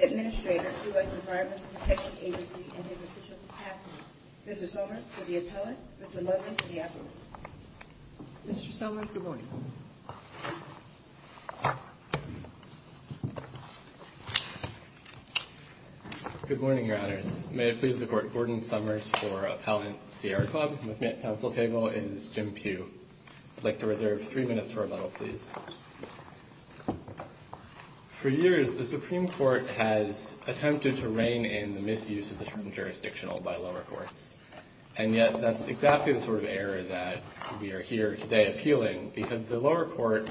Administrator, U.S. Environmental Protection Agency, and his official capacity. Mr. Somers, to the appellant. Mr. Ludland, to the appellant. Mr. Somers, good morning. Good morning, Your Honors. May it please the Court, Gordon Somers for Appellant, Sierra Club. With me at counsel table is Jim Pugh. I'd like to reserve three minutes for rebuttal, please. For years, the Supreme Court has attempted to rein in the misuse of the term jurisdictional by lower courts, and yet that's exactly the sort of error that we are here today appealing, because the lower court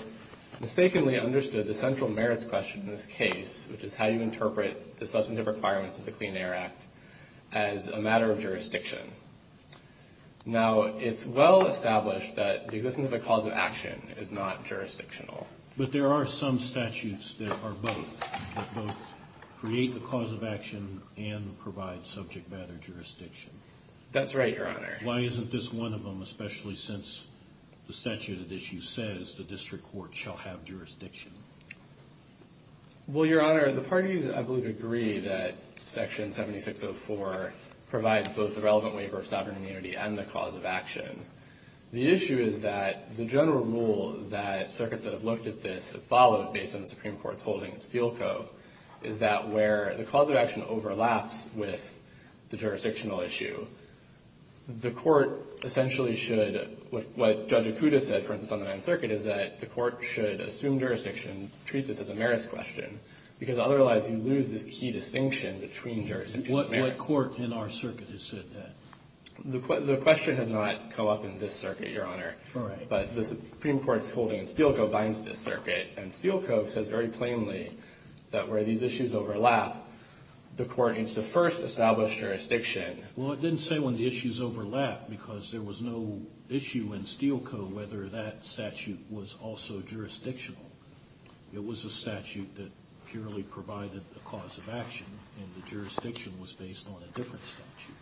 mistakenly understood the central merits question in this case, which is how you interpret the substantive requirements of the Clean Air Act as a matter of jurisdiction. Now, it's well established that the existence of a cause of action is not jurisdictional. But there are some statutes that are both, that both create the cause of action and provide subject matter jurisdiction. That's right, Your Honor. Why isn't this one of them, especially since the statute at issue says the district court shall have jurisdiction? Well, Your Honor, the parties, I believe, agree that Section 7604 provides both the relevant waiver of sovereign immunity and the cause of action. The Supreme Court's holding in Steele Co. binds this circuit, and Steele Co. says very plainly that where these issues overlap, the Court needs to first establish jurisdiction. Well, it didn't say when the issues overlap, because there was no issue in Steele Co. whether that statute was also jurisdictional. It was a statute that purely provided the cause of action, and the jurisdiction was based on a different statute.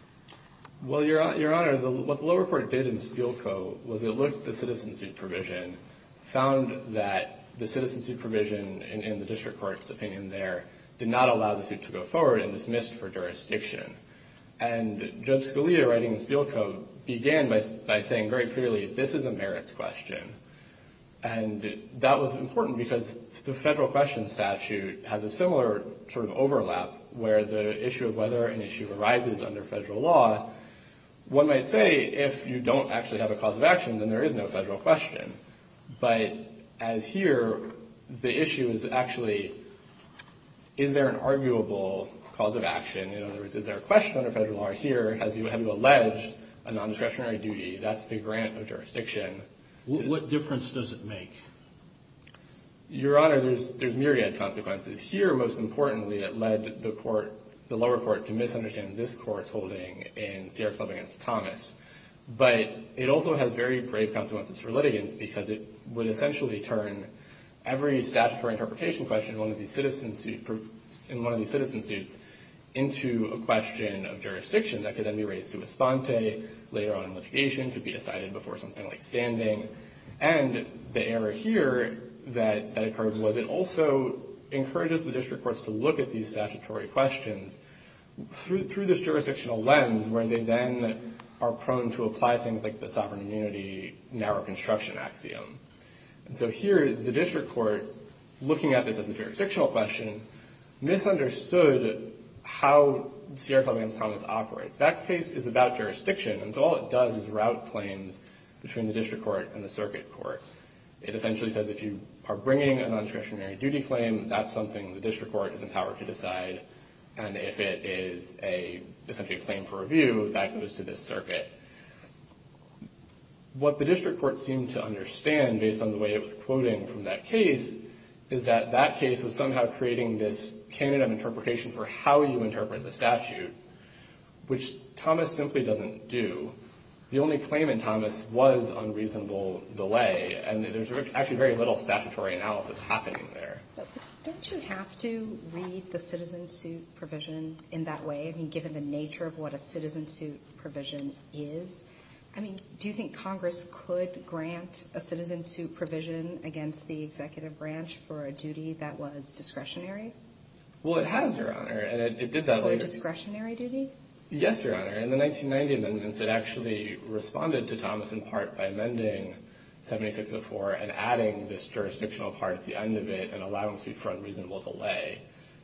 Well, Your Honor, what the lower court did in Steele Co. was it looked at the citizenship provision, found that the citizenship provision in the district court's opinion there did not allow the suit to go forward and dismissed for jurisdiction. And Judge Scalia, writing in Steele Co., began by saying very clearly, this is a merits question. And that was important because the federal questions statute has a similar sort of overlap where the issue of whether an issue arises under federal law, one might say if you don't actually have a cause of action, then there is no federal question. But as here, the issue is actually, is there an arguable cause of action? In other words, is there a question under federal law here? Have you alleged a nondiscretionary duty? That's the grant of jurisdiction. What difference does it make? Your Honor, there's myriad consequences. Here, most importantly, it led the lower court to misunderstand this court's holding in Sierra Club v. Thomas. But it also has very grave consequences for litigants because it would essentially turn every statutory interpretation question in one of these citizen suits into a question of jurisdiction that could then be raised to a sponte, later on in litigation could be decided before something like standing. And the error here that occurred was it also encourages the district courts to look at these statutory questions through this jurisdictional lens where they then are prone to apply things like the sovereign immunity narrow construction axiom. And so here, the district court, looking at this as a jurisdictional question, misunderstood how Sierra Club v. Thomas operates. That case is about jurisdiction. And so all it does is route claims between the district court and the circuit court. It essentially says if you are bringing a nondiscretionary duty claim, that's something the district court is empowered to decide. And if it is essentially a claim for review, that goes to the circuit. What the district court seemed to understand, based on the way it was quoting from that case, is that that case was somehow creating this candidate of interpretation for how you interpret the statute, which Thomas simply doesn't do. The only claim in Thomas was unreasonable delay. And there's actually very little statutory analysis happening there. Don't you have to read the citizen suit provision in that way, given the nature of what a citizen suit provision is? I mean, do you think Congress could grant a citizen suit provision against the executive branch for a duty that was discretionary? Well, it has, Your Honor. For a discretionary duty? Yes, Your Honor. In the 1990 amendments, it actually responded to Thomas in part by amending 7604 and adding this jurisdictional part at the end of it and allowing suit for unreasonable delay.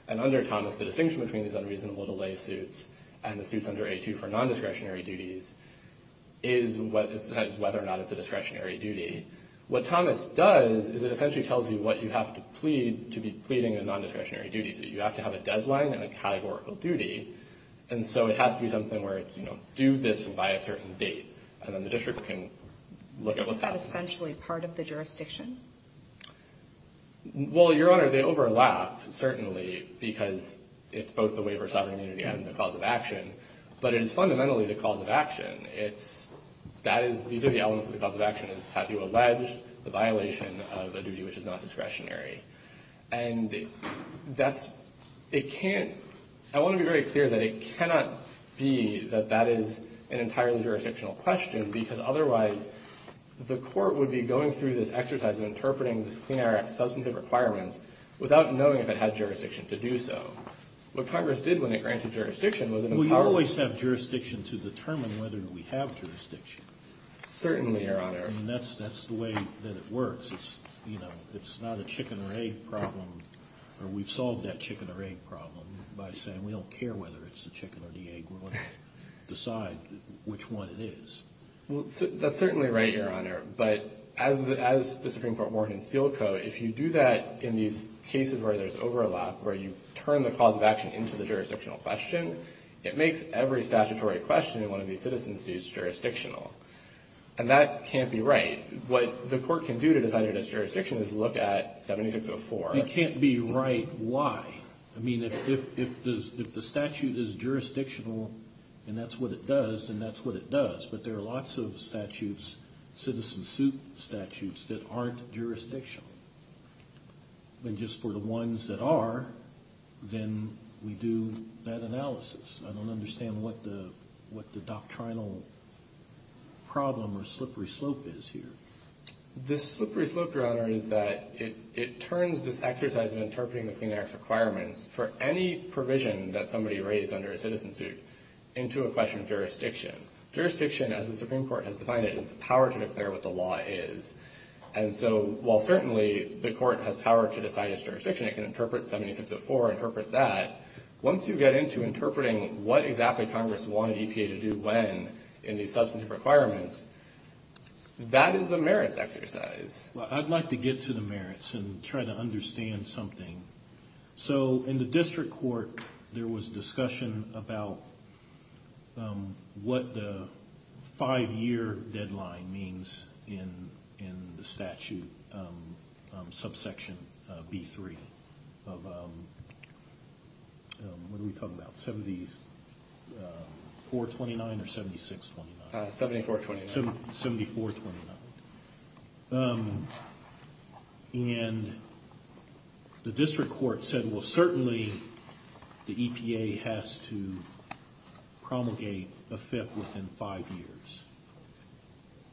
And under Thomas, the distinction between these unreasonable delay suits and the suits under 8-2 for nondiscretionary duties is whether or not it's a discretionary duty. What Thomas does is it essentially tells you what you have to plead to be pleading a nondiscretionary duty. So you have to have a deadline and a categorical duty. And so it has to be something where it's, you know, do this by a certain date. And then the district can look at what's happening. Isn't that essentially part of the jurisdiction? Well, Your Honor, they overlap, certainly, because it's both the waiver of sovereign immunity and the cause of action. But it is fundamentally the cause of action. It's – that is – these are the elements of the cause of action is have you alleged the violation of a duty which is not discretionary. And that's – it can't – I want to be very clear that it cannot be that that is an entirely jurisdictional question, because otherwise the court would be going through this exercise of interpreting this Clean Air Act substantive requirements without knowing if it had jurisdiction to do so. What Congress did when it granted jurisdiction was an empowerment. Well, you always have jurisdiction to determine whether we have jurisdiction. Certainly, Your Honor. I mean, that's the way that it works. It's, you know, it's not a chicken or egg problem. We've solved that chicken or egg problem by saying we don't care whether it's the chicken or the egg. We want to decide which one it is. Well, that's certainly right, Your Honor. But as the Supreme Court warned in Steel Co., if you do that in these cases where there's overlap, where you turn the cause of action into the jurisdictional question, it makes every statutory question in one of these citizens' suits jurisdictional. And that can't be right. What the court can do to decide it as jurisdictional is look at 7604. It can't be right. Why? I mean, if the statute is jurisdictional and that's what it does, then that's what it does. But there are lots of statutes, citizens' suit statutes, that aren't jurisdictional. And just for the ones that are, then we do that analysis. I don't understand what the doctrinal problem or slippery slope is here. The slippery slope, Your Honor, is that it turns this exercise of interpreting the Clean Air Act requirements for any provision that somebody raised under a citizen's suit into a question of jurisdiction. Jurisdiction, as the Supreme Court has defined it, is the power to declare what the law is. And so while certainly the court has power to decide its jurisdiction, it can interpret 7604, interpret that. Once you get into interpreting what exactly Congress wanted EPA to do when in these substantive requirements, that is a merits exercise. Well, I'd like to get to the merits and try to understand something. So in the district court, there was discussion about what the five-year deadline means in the statute, subsection B3. What are we talking about, 7429 or 7629? 7429. 7429. And the district court said, well, certainly the EPA has to promulgate a fifth within five years.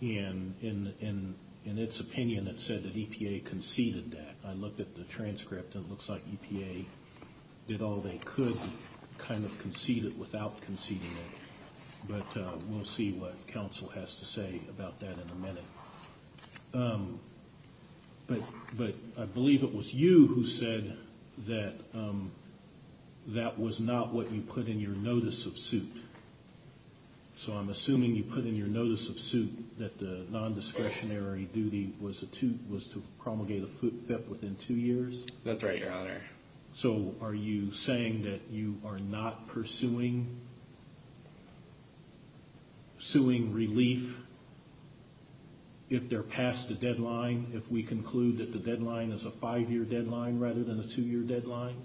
And in its opinion, it said that EPA conceded that. I looked at the transcript, and it looks like EPA did all they could to kind of concede it without conceding it. But we'll see what counsel has to say about that in a minute. But I believe it was you who said that that was not what you put in your notice of suit. So I'm assuming you put in your notice of suit that the nondiscretionary duty was to promulgate a fifth within two years? That's right, Your Honor. So are you saying that you are not pursuing relief if they're past the deadline, if we conclude that the deadline is a five-year deadline rather than a two-year deadline?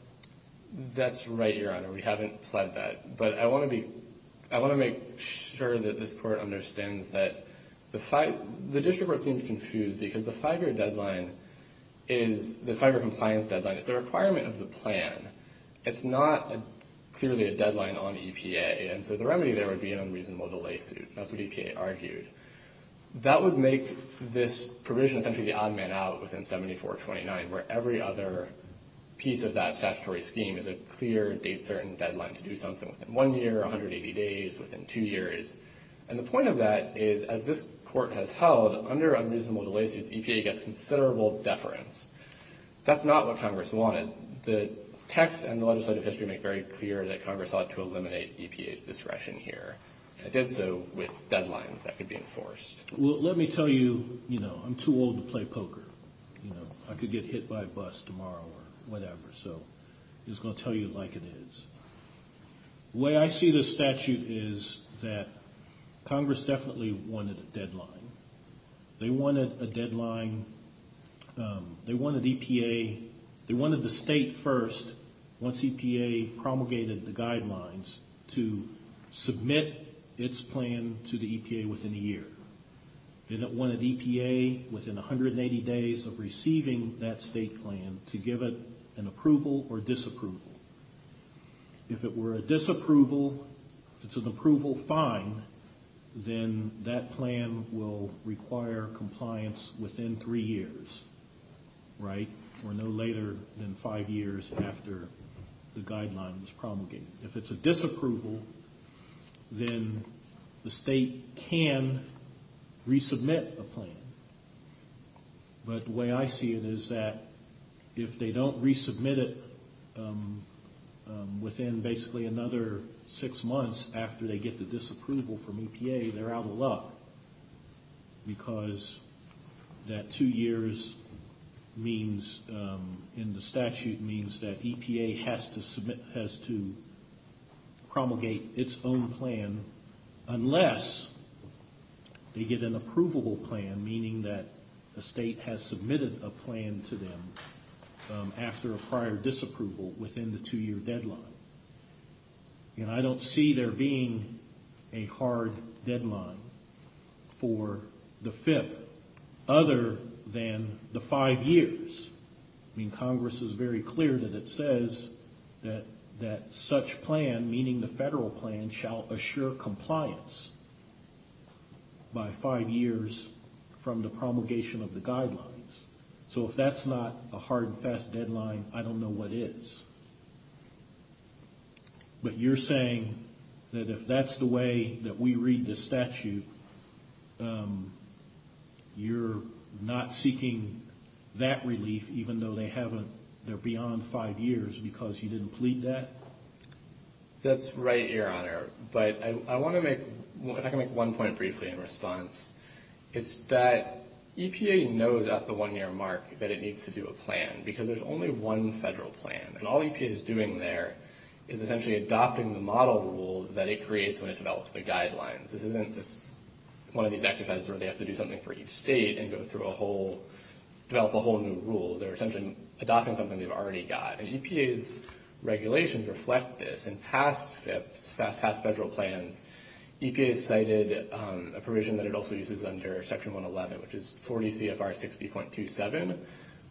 That's right, Your Honor. We haven't pled that. But I want to make sure that this Court understands that the district court seemed confused because the five-year deadline is the five-year compliance deadline. It's a requirement of the plan. It's not clearly a deadline on EPA. And so the remedy there would be an unreasonable delay suit. That's what EPA argued. That would make this provision essentially the odd man out within 7429, where every other piece of that statutory scheme is a clear, date-certain deadline to do something within one year, 180 days, within two years. And the point of that is, as this Court has held, under unreasonable delay suits, EPA gets considerable deference. That's not what Congress wanted. The text and the legislative history make very clear that Congress ought to eliminate EPA's discretion here. I did so with deadlines that could be enforced. Well, let me tell you, you know, I'm too old to play poker. You know, I could get hit by a bus tomorrow or whatever. So I'm just going to tell you like it is. The way I see this statute is that Congress definitely wanted a deadline. They wanted a deadline. They wanted EPA, they wanted the state first, once EPA promulgated the guidelines, to submit its plan to the EPA within a year. They wanted EPA, within 180 days of receiving that state plan, to give it an approval or disapproval. If it were a disapproval, if it's an approval, fine, then that plan will require compliance within three years, right? Or no later than five years after the guideline was promulgated. If it's a disapproval, then the state can resubmit a plan. But the way I see it is that if they don't resubmit it within basically another six months after they get the disapproval from EPA, they're out of luck because that two years in the statute means that EPA has to promulgate its own plan unless they get an approvable plan, meaning that a state has submitted a plan to them after a prior disapproval within the two-year deadline. I don't see there being a hard deadline for the FIP other than the five years. Congress is very clear that it says that such plan, meaning the federal plan, shall assure compliance by five years from the promulgation of the guidelines. So if that's not a hard and fast deadline, I don't know what is. But you're saying that if that's the way that we read the statute, you're not seeking that relief even though they're beyond five years because you didn't plead that? That's right, Your Honor, but I want to make one point briefly in response. It's that EPA knows at the one-year mark that it needs to do a plan because there's only one federal plan. And all EPA is doing there is essentially adopting the model rule that it creates when it develops the guidelines. This isn't just one of these exercises where they have to do something for each state and develop a whole new rule. They're essentially adopting something they've already got, and EPA's regulations reflect this. In past FIPs, past federal plans, EPA cited a provision that it also uses under Section 111, which is 40 CFR 60.27,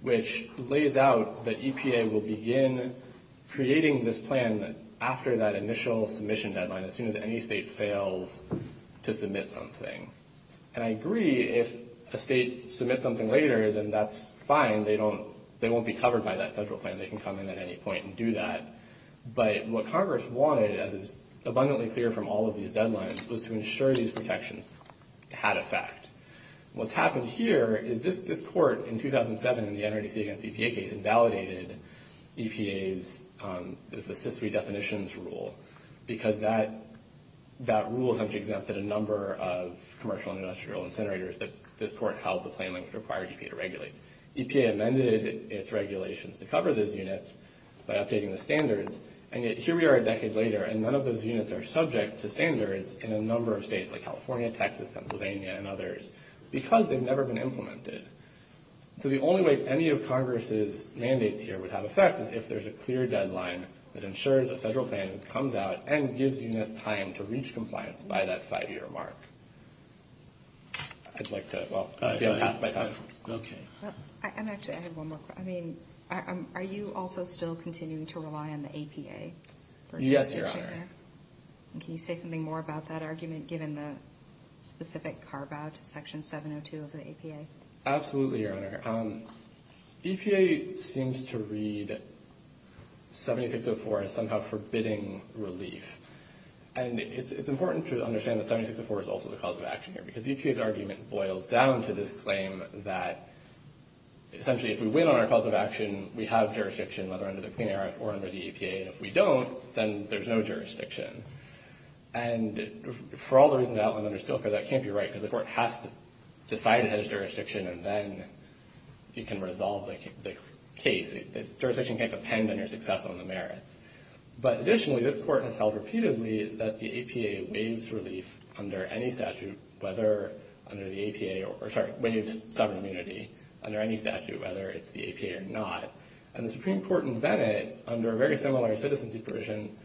which lays out that EPA will begin creating this plan after that initial submission deadline as soon as any state fails to submit something. And I agree if a state submits something later, then that's fine. They won't be covered by that federal plan. They can come in at any point and do that. But what Congress wanted, as is abundantly clear from all of these deadlines, was to ensure these protections had effect. What's happened here is this court in 2007, in the NRDC against EPA case, invalidated EPA's assist redefinitions rule because that rule essentially exempted a number of commercial and industrial incinerators that this court held the plan would require EPA to regulate. EPA amended its regulations to cover those units by updating the standards. And yet here we are a decade later, and none of those units are subject to standards in a number of states, like California, Texas, Pennsylvania, and others, because they've never been implemented. So the only way any of Congress's mandates here would have effect is if there's a clear deadline that ensures a federal plan comes out and gives units time to reach compliance by that five-year mark. I'd like to see it pass by time. Okay. Actually, I have one more question. Are you also still continuing to rely on the APA? Yes, Your Honor. Can you say something more about that argument, given the specific carve-out to Section 702 of the APA? Absolutely, Your Honor. EPA seems to read 7604 as somehow forbidding relief. And it's important to understand that 7604 is also the cause of action here, because EPA's argument boils down to this claim that essentially if we win on our cause of action, we have jurisdiction, whether under the Clean Air Act or under the EPA. And if we don't, then there's no jurisdiction. And for all the reasons outlined under Stoker, that can't be right, because the court has to decide it has jurisdiction, and then you can resolve the case. Jurisdiction can't depend on your success on the merits. But additionally, this court has held repeatedly that the APA waives relief under any statute, whether under the APA or – sorry, waives sovereign immunity under any statute, whether it's the APA or not. And the Supreme Court in Bennett, under a very similar citizenship provision,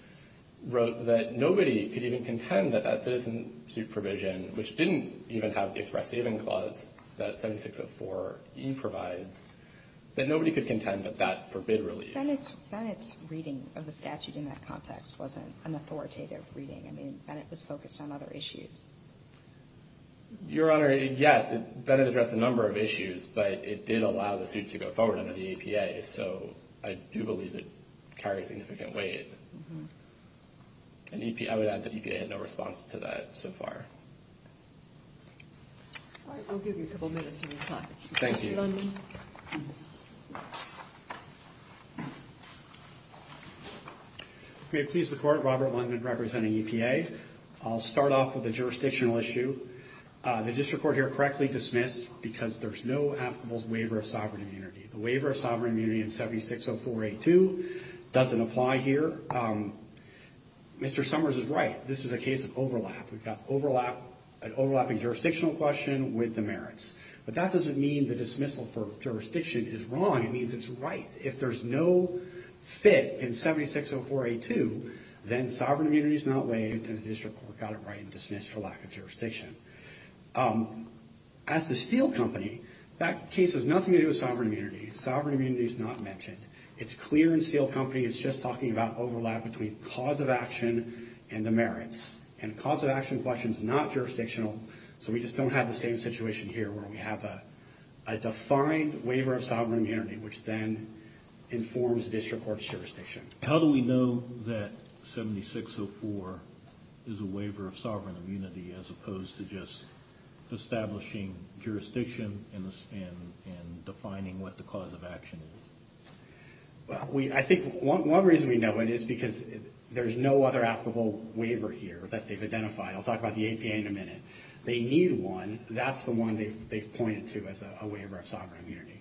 wrote that nobody could even contend that that citizenship provision, which didn't even have the express saving clause that 7604E provides, that nobody could contend that that forbid relief. But Bennett's reading of the statute in that context wasn't an authoritative reading. I mean, Bennett was focused on other issues. Your Honor, yes, Bennett addressed a number of issues, but it did allow the suit to go forward under the EPA, so I do believe it carries significant weight. I would add that EPA had no response to that so far. All right, we'll give you a couple minutes of your time. Thank you. May it please the Court, Robert Lundin representing EPA. I'll start off with a jurisdictional issue. The district court here correctly dismissed because there's no applicable waiver of sovereign immunity. The waiver of sovereign immunity in 7604A2 doesn't apply here. Mr. Summers is right. This is a case of overlap. We've got an overlapping jurisdictional question with the merits. But that doesn't mean the dismissal for jurisdiction is wrong. It means it's right. If there's no fit in 7604A2, then sovereign immunity is not waived, and the district court got it right and dismissed for lack of jurisdiction. As to Steel Company, that case has nothing to do with sovereign immunity. Sovereign immunity is not mentioned. It's clear in Steel Company it's just talking about overlap between cause of action and the merits. And the cause of action question is not jurisdictional, so we just don't have the same situation here where we have a defined waiver of sovereign immunity, which then informs district court's jurisdiction. How do we know that 7604 is a waiver of sovereign immunity as opposed to just establishing jurisdiction and defining what the cause of action is? I think one reason we know it is because there's no other applicable waiver here that they've identified. I'll talk about the APA in a minute. They need one. That's the one they've pointed to as a waiver of sovereign immunity.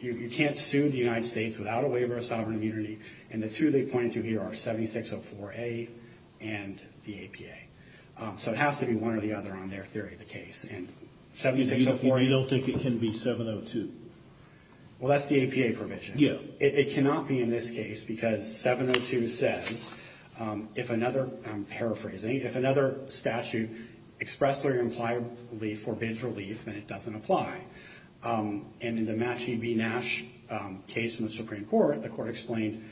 You can't sue the United States without a waiver of sovereign immunity, and the two they've pointed to here are 7604A and the APA. So it has to be one or the other on their theory of the case. 7604A, they'll think it can be 702. Well, that's the APA provision. It cannot be in this case because 702 says, if another, I'm paraphrasing, if another statute expressly or impliedly forbids relief, then it doesn't apply. And in the Matche v. Nash case in the Supreme Court, the court explained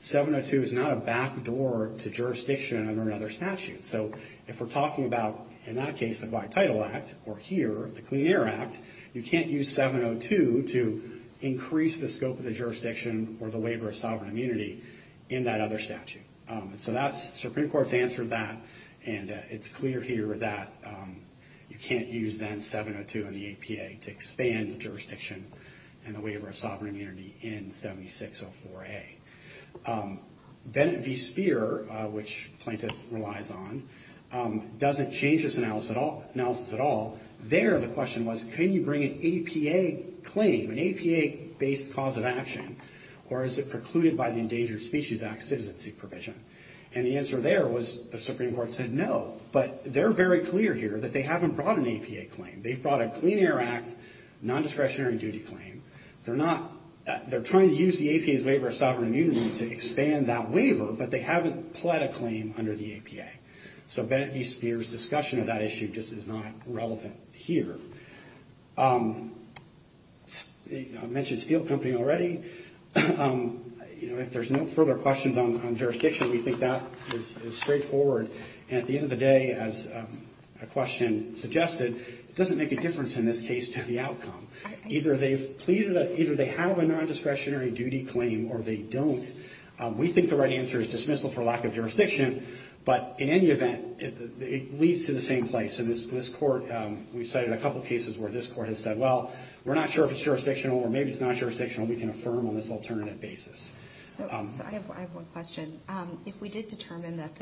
702 is not a backdoor to jurisdiction under another statute. So if we're talking about, in that case, the Black Title Act or here, the Clean Air Act, you can't use 702 to increase the scope of the jurisdiction or the waiver of sovereign immunity in that other statute. So that's, the Supreme Court's answered that, and it's clear here that you can't use, then, 702 and the APA to expand the jurisdiction and the waiver of sovereign immunity in 7604A. Bennett v. Speer, which Plaintiff relies on, doesn't change this analysis at all. There, the question was, can you bring an APA claim, an APA-based cause of action, or is it precluded by the Endangered Species Act citizenship provision? And the answer there was the Supreme Court said no, but they're very clear here that they haven't brought an APA claim. They've brought a Clean Air Act non-discretionary duty claim. They're trying to use the APA's waiver of sovereign immunity to expand that waiver, but they haven't pled a claim under the APA. So Bennett v. Speer's discussion of that issue just is not relevant here. I mentioned Steel Company already. You know, if there's no further questions on jurisdiction, we think that is straightforward. And at the end of the day, as a question suggested, it doesn't make a difference in this case to the outcome. Either they've pleaded a, either they have a non-discretionary duty claim or they don't. We think the right answer is dismissal for lack of jurisdiction, but in any event, it leads to the same place. And this court, we cited a couple cases where this court has said, well, we're not sure if it's jurisdictional or maybe it's not jurisdictional. We can affirm on this alternative basis. So I have one question. If we did determine that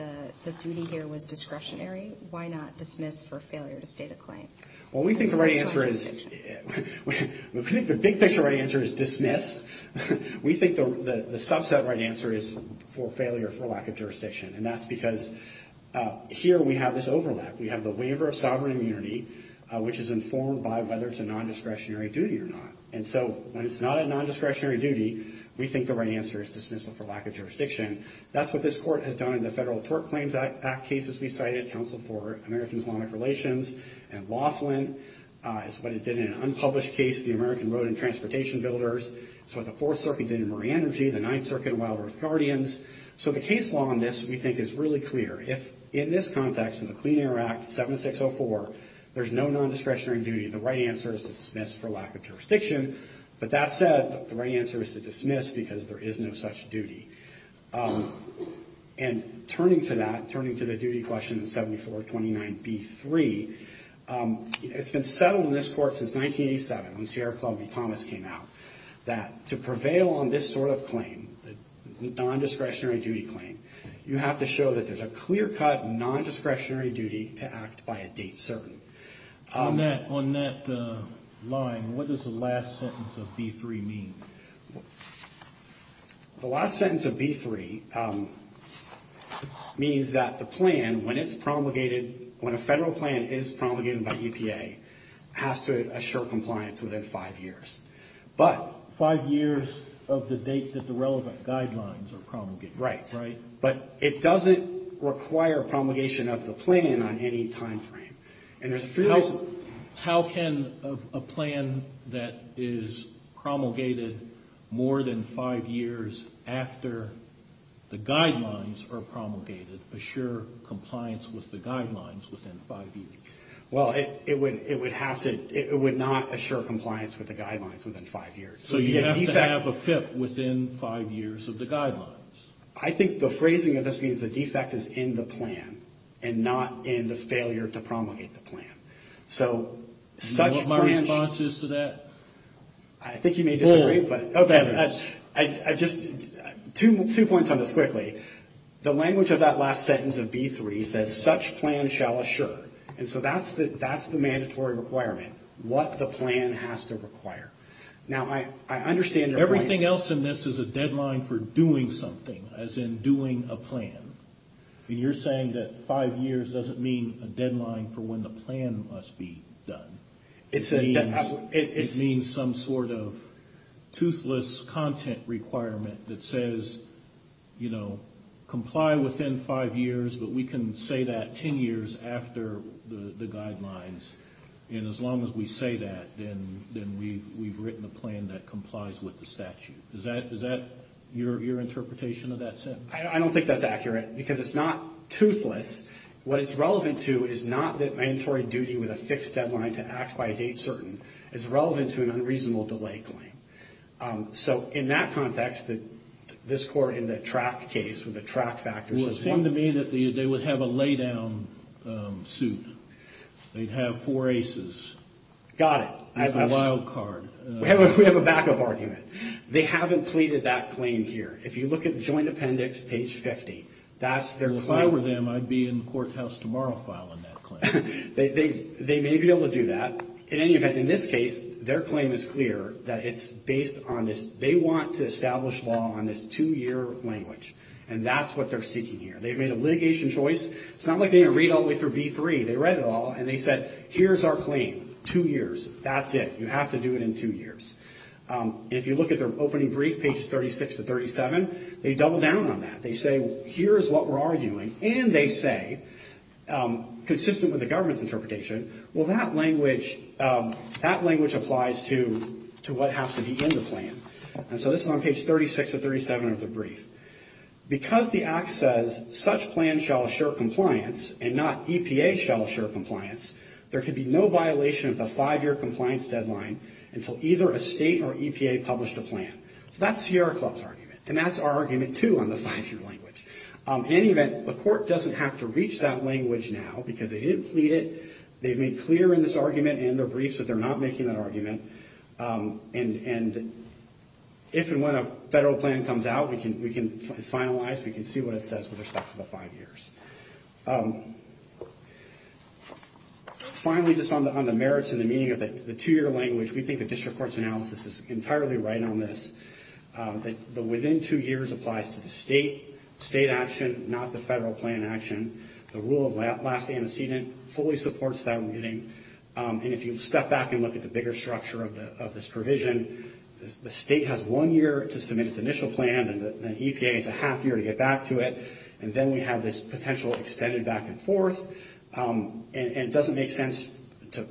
the duty here was discretionary, why not dismiss for failure to state a claim? Well, we think the right answer is, we think the big picture right answer is dismiss. We think the subset right answer is for failure for lack of jurisdiction, and that's because here we have this overlap. We have the waiver of sovereign immunity, which is informed by whether it's a non-discretionary duty or not. And so when it's not a non-discretionary duty, we think the right answer is dismissal for lack of jurisdiction. That's what this court has done in the Federal Tort Claims Act cases we cited, Counsel for American-Islamic Relations and Wafflin. It's what it did in an unpublished case, the American Road and Transportation Builders. It's what the Fourth Circuit did in Marine Energy, the Ninth Circuit in Wild Earth Guardians. So the case law on this, we think, is really clear. If in this context, in the Clean Air Act 7604, there's no non-discretionary duty, the right answer is to dismiss for lack of jurisdiction. But that said, the right answer is to dismiss because there is no such duty. And turning to that, turning to the duty question in 7429B3, it's been settled in this court since 1987, when Sierra Club v. Thomas came out, that to prevail on this sort of claim, the non-discretionary duty claim, you have to show that there's a clear-cut non-discretionary duty to act by a date certain. On that line, what does the last sentence of B3 mean? The last sentence of B3 means that the plan, when it's promulgated, when a federal plan is promulgated by EPA, has to assure compliance within five years. Five years of the date that the relevant guidelines are promulgated. Right. But it doesn't require promulgation of the plan on any time frame. How can a plan that is promulgated more than five years after the guidelines are promulgated assure compliance with the guidelines within five years? Well, it would not assure compliance with the guidelines within five years. So you have to have a FIP within five years of the guidelines. I think the phrasing of this means the defect is in the plan and not in the failure to promulgate the plan. Do you know what my response is to that? I think you may disagree. Two points on this quickly. The language of that last sentence of B3 says, such plan shall assure. And so that's the mandatory requirement. What the plan has to require. Now, I understand your point. Everything else in this is a deadline for doing something, as in doing a plan. And you're saying that five years doesn't mean a deadline for when the plan must be done. It means some sort of toothless content requirement that says, you know, comply within five years, but we can say that ten years after the guidelines. And as long as we say that, then we've written a plan that complies with the statute. Is that your interpretation of that sentence? I don't think that's accurate because it's not toothless. What it's relevant to is not that mandatory duty with a fixed deadline to act by a date certain. It's relevant to an unreasonable delay claim. So in that context, this court in the track case with the track factors. Well, it seemed to me that they would have a lay down suit. They'd have four aces. Got it. With a wild card. We have a backup argument. They haven't pleaded that claim here. If you look at joint appendix page 50, that's their claim. If I were them, I'd be in the courthouse tomorrow filing that claim. They may be able to do that. In any event, in this case, their claim is clear that it's based on this. They want to establish law on this two year language. And that's what they're seeking here. They've made a litigation choice. It's not like they're going to read all the way through B3. They read it all and they said, here's our claim. Two years. That's it. You have to do it in two years. If you look at their opening brief, pages 36 to 37, they double down on that. They say, here's what we're arguing. And they say, consistent with the government's interpretation, well, that language applies to what has to be in the plan. And so this is on page 36 or 37 of the brief. Because the act says, such plan shall assure compliance and not EPA shall assure compliance, there could be no violation of the five year compliance deadline until either a state or EPA published a plan. So that's Sierra Club's argument. And that's our argument, too, on the five year language. In any event, the court doesn't have to reach that language now because they didn't plead it. They've made clear in this argument and their briefs that they're not making that argument. And if and when a federal plan comes out, we can finalize, we can see what it says with respect to the five years. Finally, just on the merits and the meaning of the two year language, we think the district court's analysis is entirely right on this. The within two years applies to the state, state action, not the federal plan action. The rule of last antecedent fully supports that meaning. And if you step back and look at the bigger structure of this provision, the state has one year to submit its initial plan and the EPA has a half year to get back to it. And then we have this potential extended back and forth. And it doesn't make sense to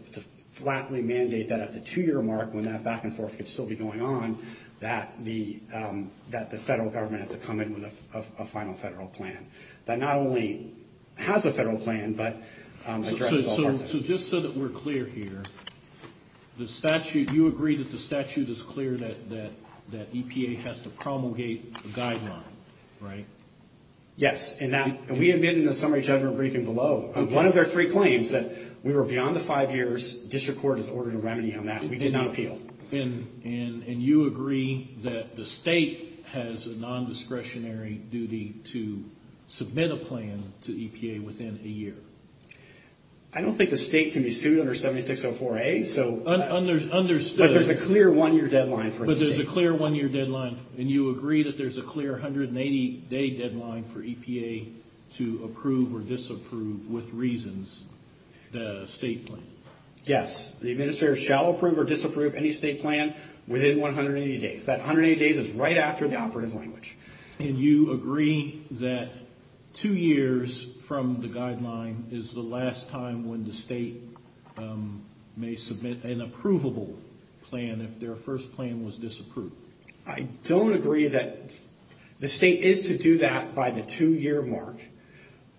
flatly mandate that at the two year mark when that back and forth could still be going on, that the federal government has to come in with a final federal plan. That not only has a federal plan, but addresses all parts of it. So just so that we're clear here, the statute, you agree that the statute is clear that EPA has to promulgate a guideline, right? Yes. And we admit in the summary judgment briefing below, one of their three claims that we were beyond the five years, district court has ordered a remedy on that. We did not appeal. And you agree that the state has a non-discretionary duty to submit a plan to EPA within a year? I don't think the state can be sued under 7604A. Understood. But there's a clear one year deadline for the state. But there's a clear one year deadline. And you agree that there's a clear 180 day deadline for EPA to approve or disapprove with reasons the state plan? Yes. The administrator shall approve or disapprove any state plan within 180 days. That 180 days is right after the operative language. And you agree that two years from the guideline is the last time when the state may submit an approvable plan if their first plan was disapproved? I don't agree that the state is to do that by the two year mark.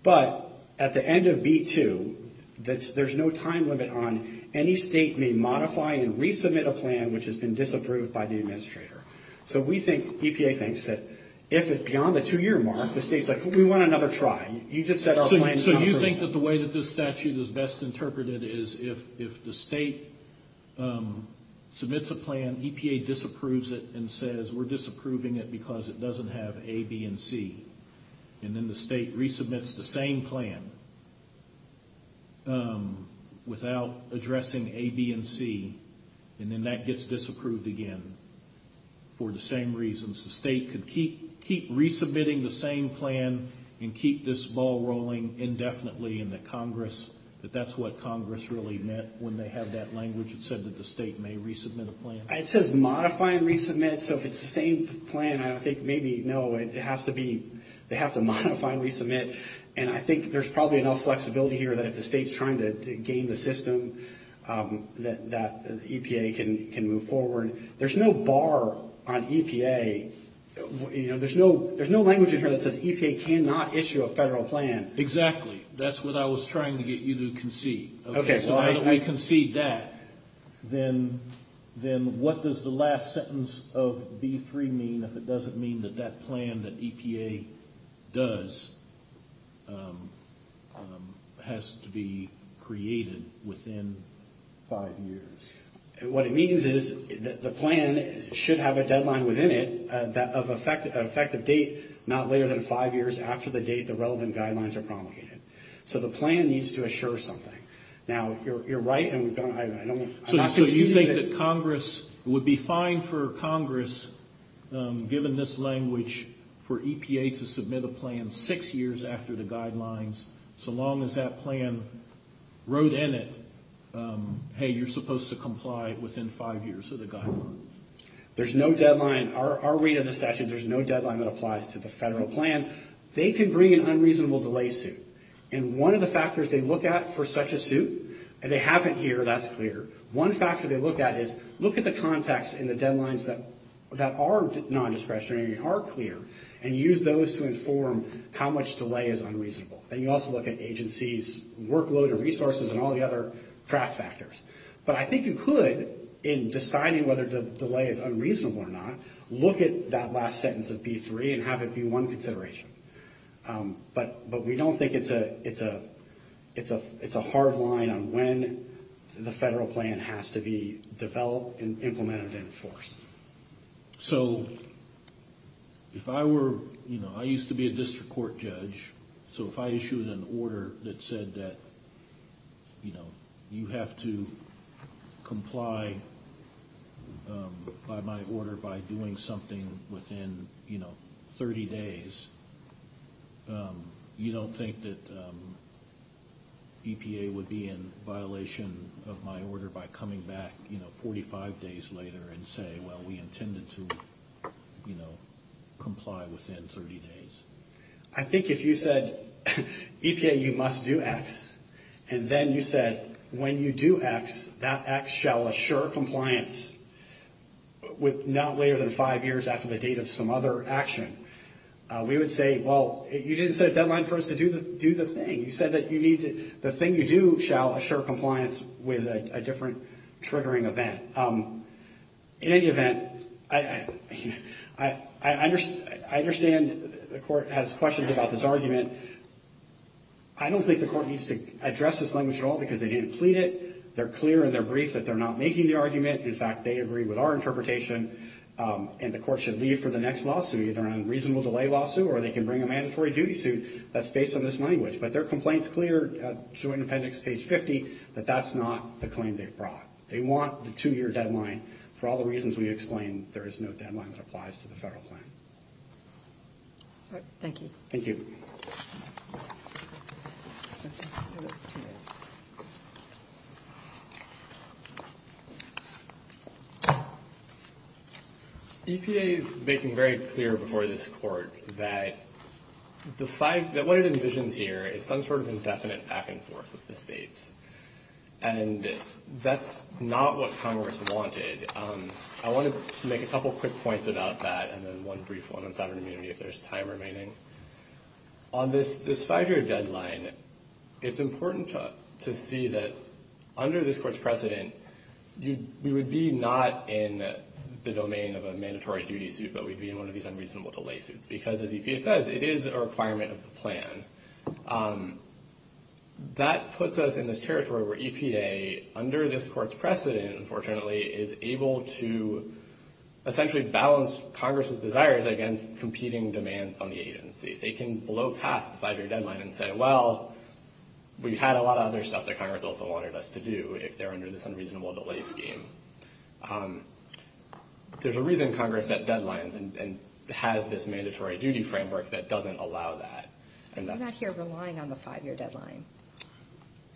But at the end of B2, there's no time limit on any state may modify and resubmit a plan which has been disapproved by the administrator. So we think, EPA thinks, that if it's beyond the two year mark, the state's like, we want another try. You just said our plan is not approved. So you think that the way that this statute is best interpreted is if the state submits a plan, EPA disapproves it and says we're disapproving it because it doesn't have A, B, and C. And then the state resubmits the same plan without addressing A, B, and C. And then that gets disapproved again for the same reasons. The state could keep resubmitting the same plan and keep this ball rolling indefinitely and that Congress, that that's what Congress really meant when they have that language. It said that the state may resubmit a plan. It says modify and resubmit. So if it's the same plan, I think maybe, no, it has to be, they have to modify and resubmit. And I think there's probably enough flexibility here that if the state's trying to gain the system, that EPA can move forward. There's no bar on EPA. You know, there's no language in here that says EPA cannot issue a federal plan. Exactly. That's what I was trying to get you to concede. Okay. So how do we concede that? Then what does the last sentence of B3 mean if it doesn't mean that that plan that EPA does has to be created within five years? What it means is that the plan should have a deadline within it of effective date not later than five years after the date the relevant guidelines are promulgated. So the plan needs to assure something. Now, you're right. So you think that Congress would be fine for Congress, given this language, for EPA to submit a plan six years after the guidelines so long as that plan wrote in it, hey, you're supposed to comply within five years of the guideline? There's no deadline. Our read of the statute, there's no deadline that applies to the federal plan. They can bring an unreasonable delay suit. And one of the factors they look at for such a suit, and they haven't here, that's clear. One factor they look at is look at the context and the deadlines that are nondiscretionary and are clear, and use those to inform how much delay is unreasonable. And you also look at agencies' workload and resources and all the other track factors. But I think you could, in deciding whether the delay is unreasonable or not, look at that last sentence of B3 and have it be one consideration. But we don't think it's a hard line on when the federal plan has to be developed and implemented in force. So if I were, you know, I used to be a district court judge, so if I issued an order that said that, you know, you have to comply by my order by doing something within, you know, 30 days, you don't think that EPA would be in violation of my order by coming back, you know, 45 days later and say, well, we intended to, you know, comply within 30 days? I think if you said, EPA, you must do X, and then you said, when you do X, that X shall assure compliance with not later than five years after the date of some other action, we would say, well, you didn't set a deadline for us to do the thing. You said that you need to, the thing you do shall assure compliance with a different triggering event. In any event, I understand the court has questions about this argument. I don't think the court needs to address this language at all because they didn't plead it. They're clear in their brief that they're not making the argument. In fact, they agree with our interpretation, and the court should leave for the next lawsuit, either an unreasonable delay lawsuit or they can bring a mandatory duty suit that's based on this language. But their complaint's clear, Joint Appendix, page 50, that that's not the claim they've brought. They want the two-year deadline for all the reasons we explained. There is no deadline that applies to the Federal plan. All right. Thank you. Thank you. Thank you. EPA is making very clear before this court that the five, that what it envisions here is some sort of indefinite back and forth with the states. And that's not what Congress wanted. I want to make a couple quick points about that and then one brief one on sovereign remaining. On this five-year deadline, it's important to see that under this court's precedent, we would be not in the domain of a mandatory duty suit, but we'd be in one of these unreasonable delay suits because, as EPA says, it is a requirement of the plan. That puts us in this territory where EPA, under this court's precedent, unfortunately, is able to essentially balance Congress's desires against competing demands on the agency. They can blow past the five-year deadline and say, well, we had a lot of other stuff that Congress also wanted us to do if they're under this unreasonable delay scheme. There's a reason Congress set deadlines and has this mandatory duty framework that doesn't allow that. You're not here relying on the five-year deadline.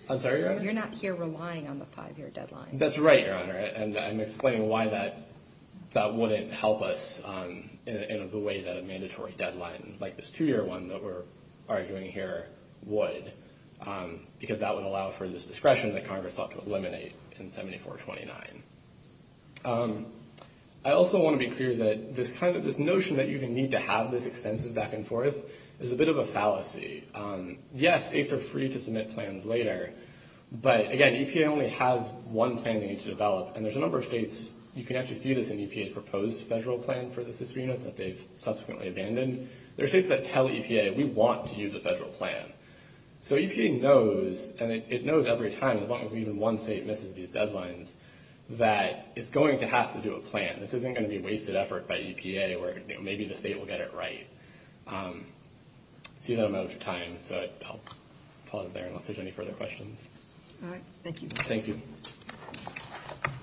I'm sorry, Your Honor? You're not here relying on the five-year deadline. That's right, Your Honor. And I'm explaining why that wouldn't help us in the way that a mandatory deadline, like this two-year one that we're arguing here, would, because that would allow for this discretion that Congress sought to eliminate in 7429. I also want to be clear that this notion that you even need to have this extensive back-and-forth is a bit of a fallacy. Yes, aides are free to submit plans later. But, again, EPA only has one plan they need to develop. And there's a number of states, you can actually see this in EPA's proposed federal plan for the CISRA units that they've subsequently abandoned. There are states that tell EPA, we want to use a federal plan. So EPA knows, and it knows every time, as long as even one state misses these deadlines, that it's going to have to do a plan. This isn't going to be wasted effort by EPA where maybe the state will get it right. I see that I'm out of time, so I'll pause there unless there's any further questions. All right. Thank you. Thank you.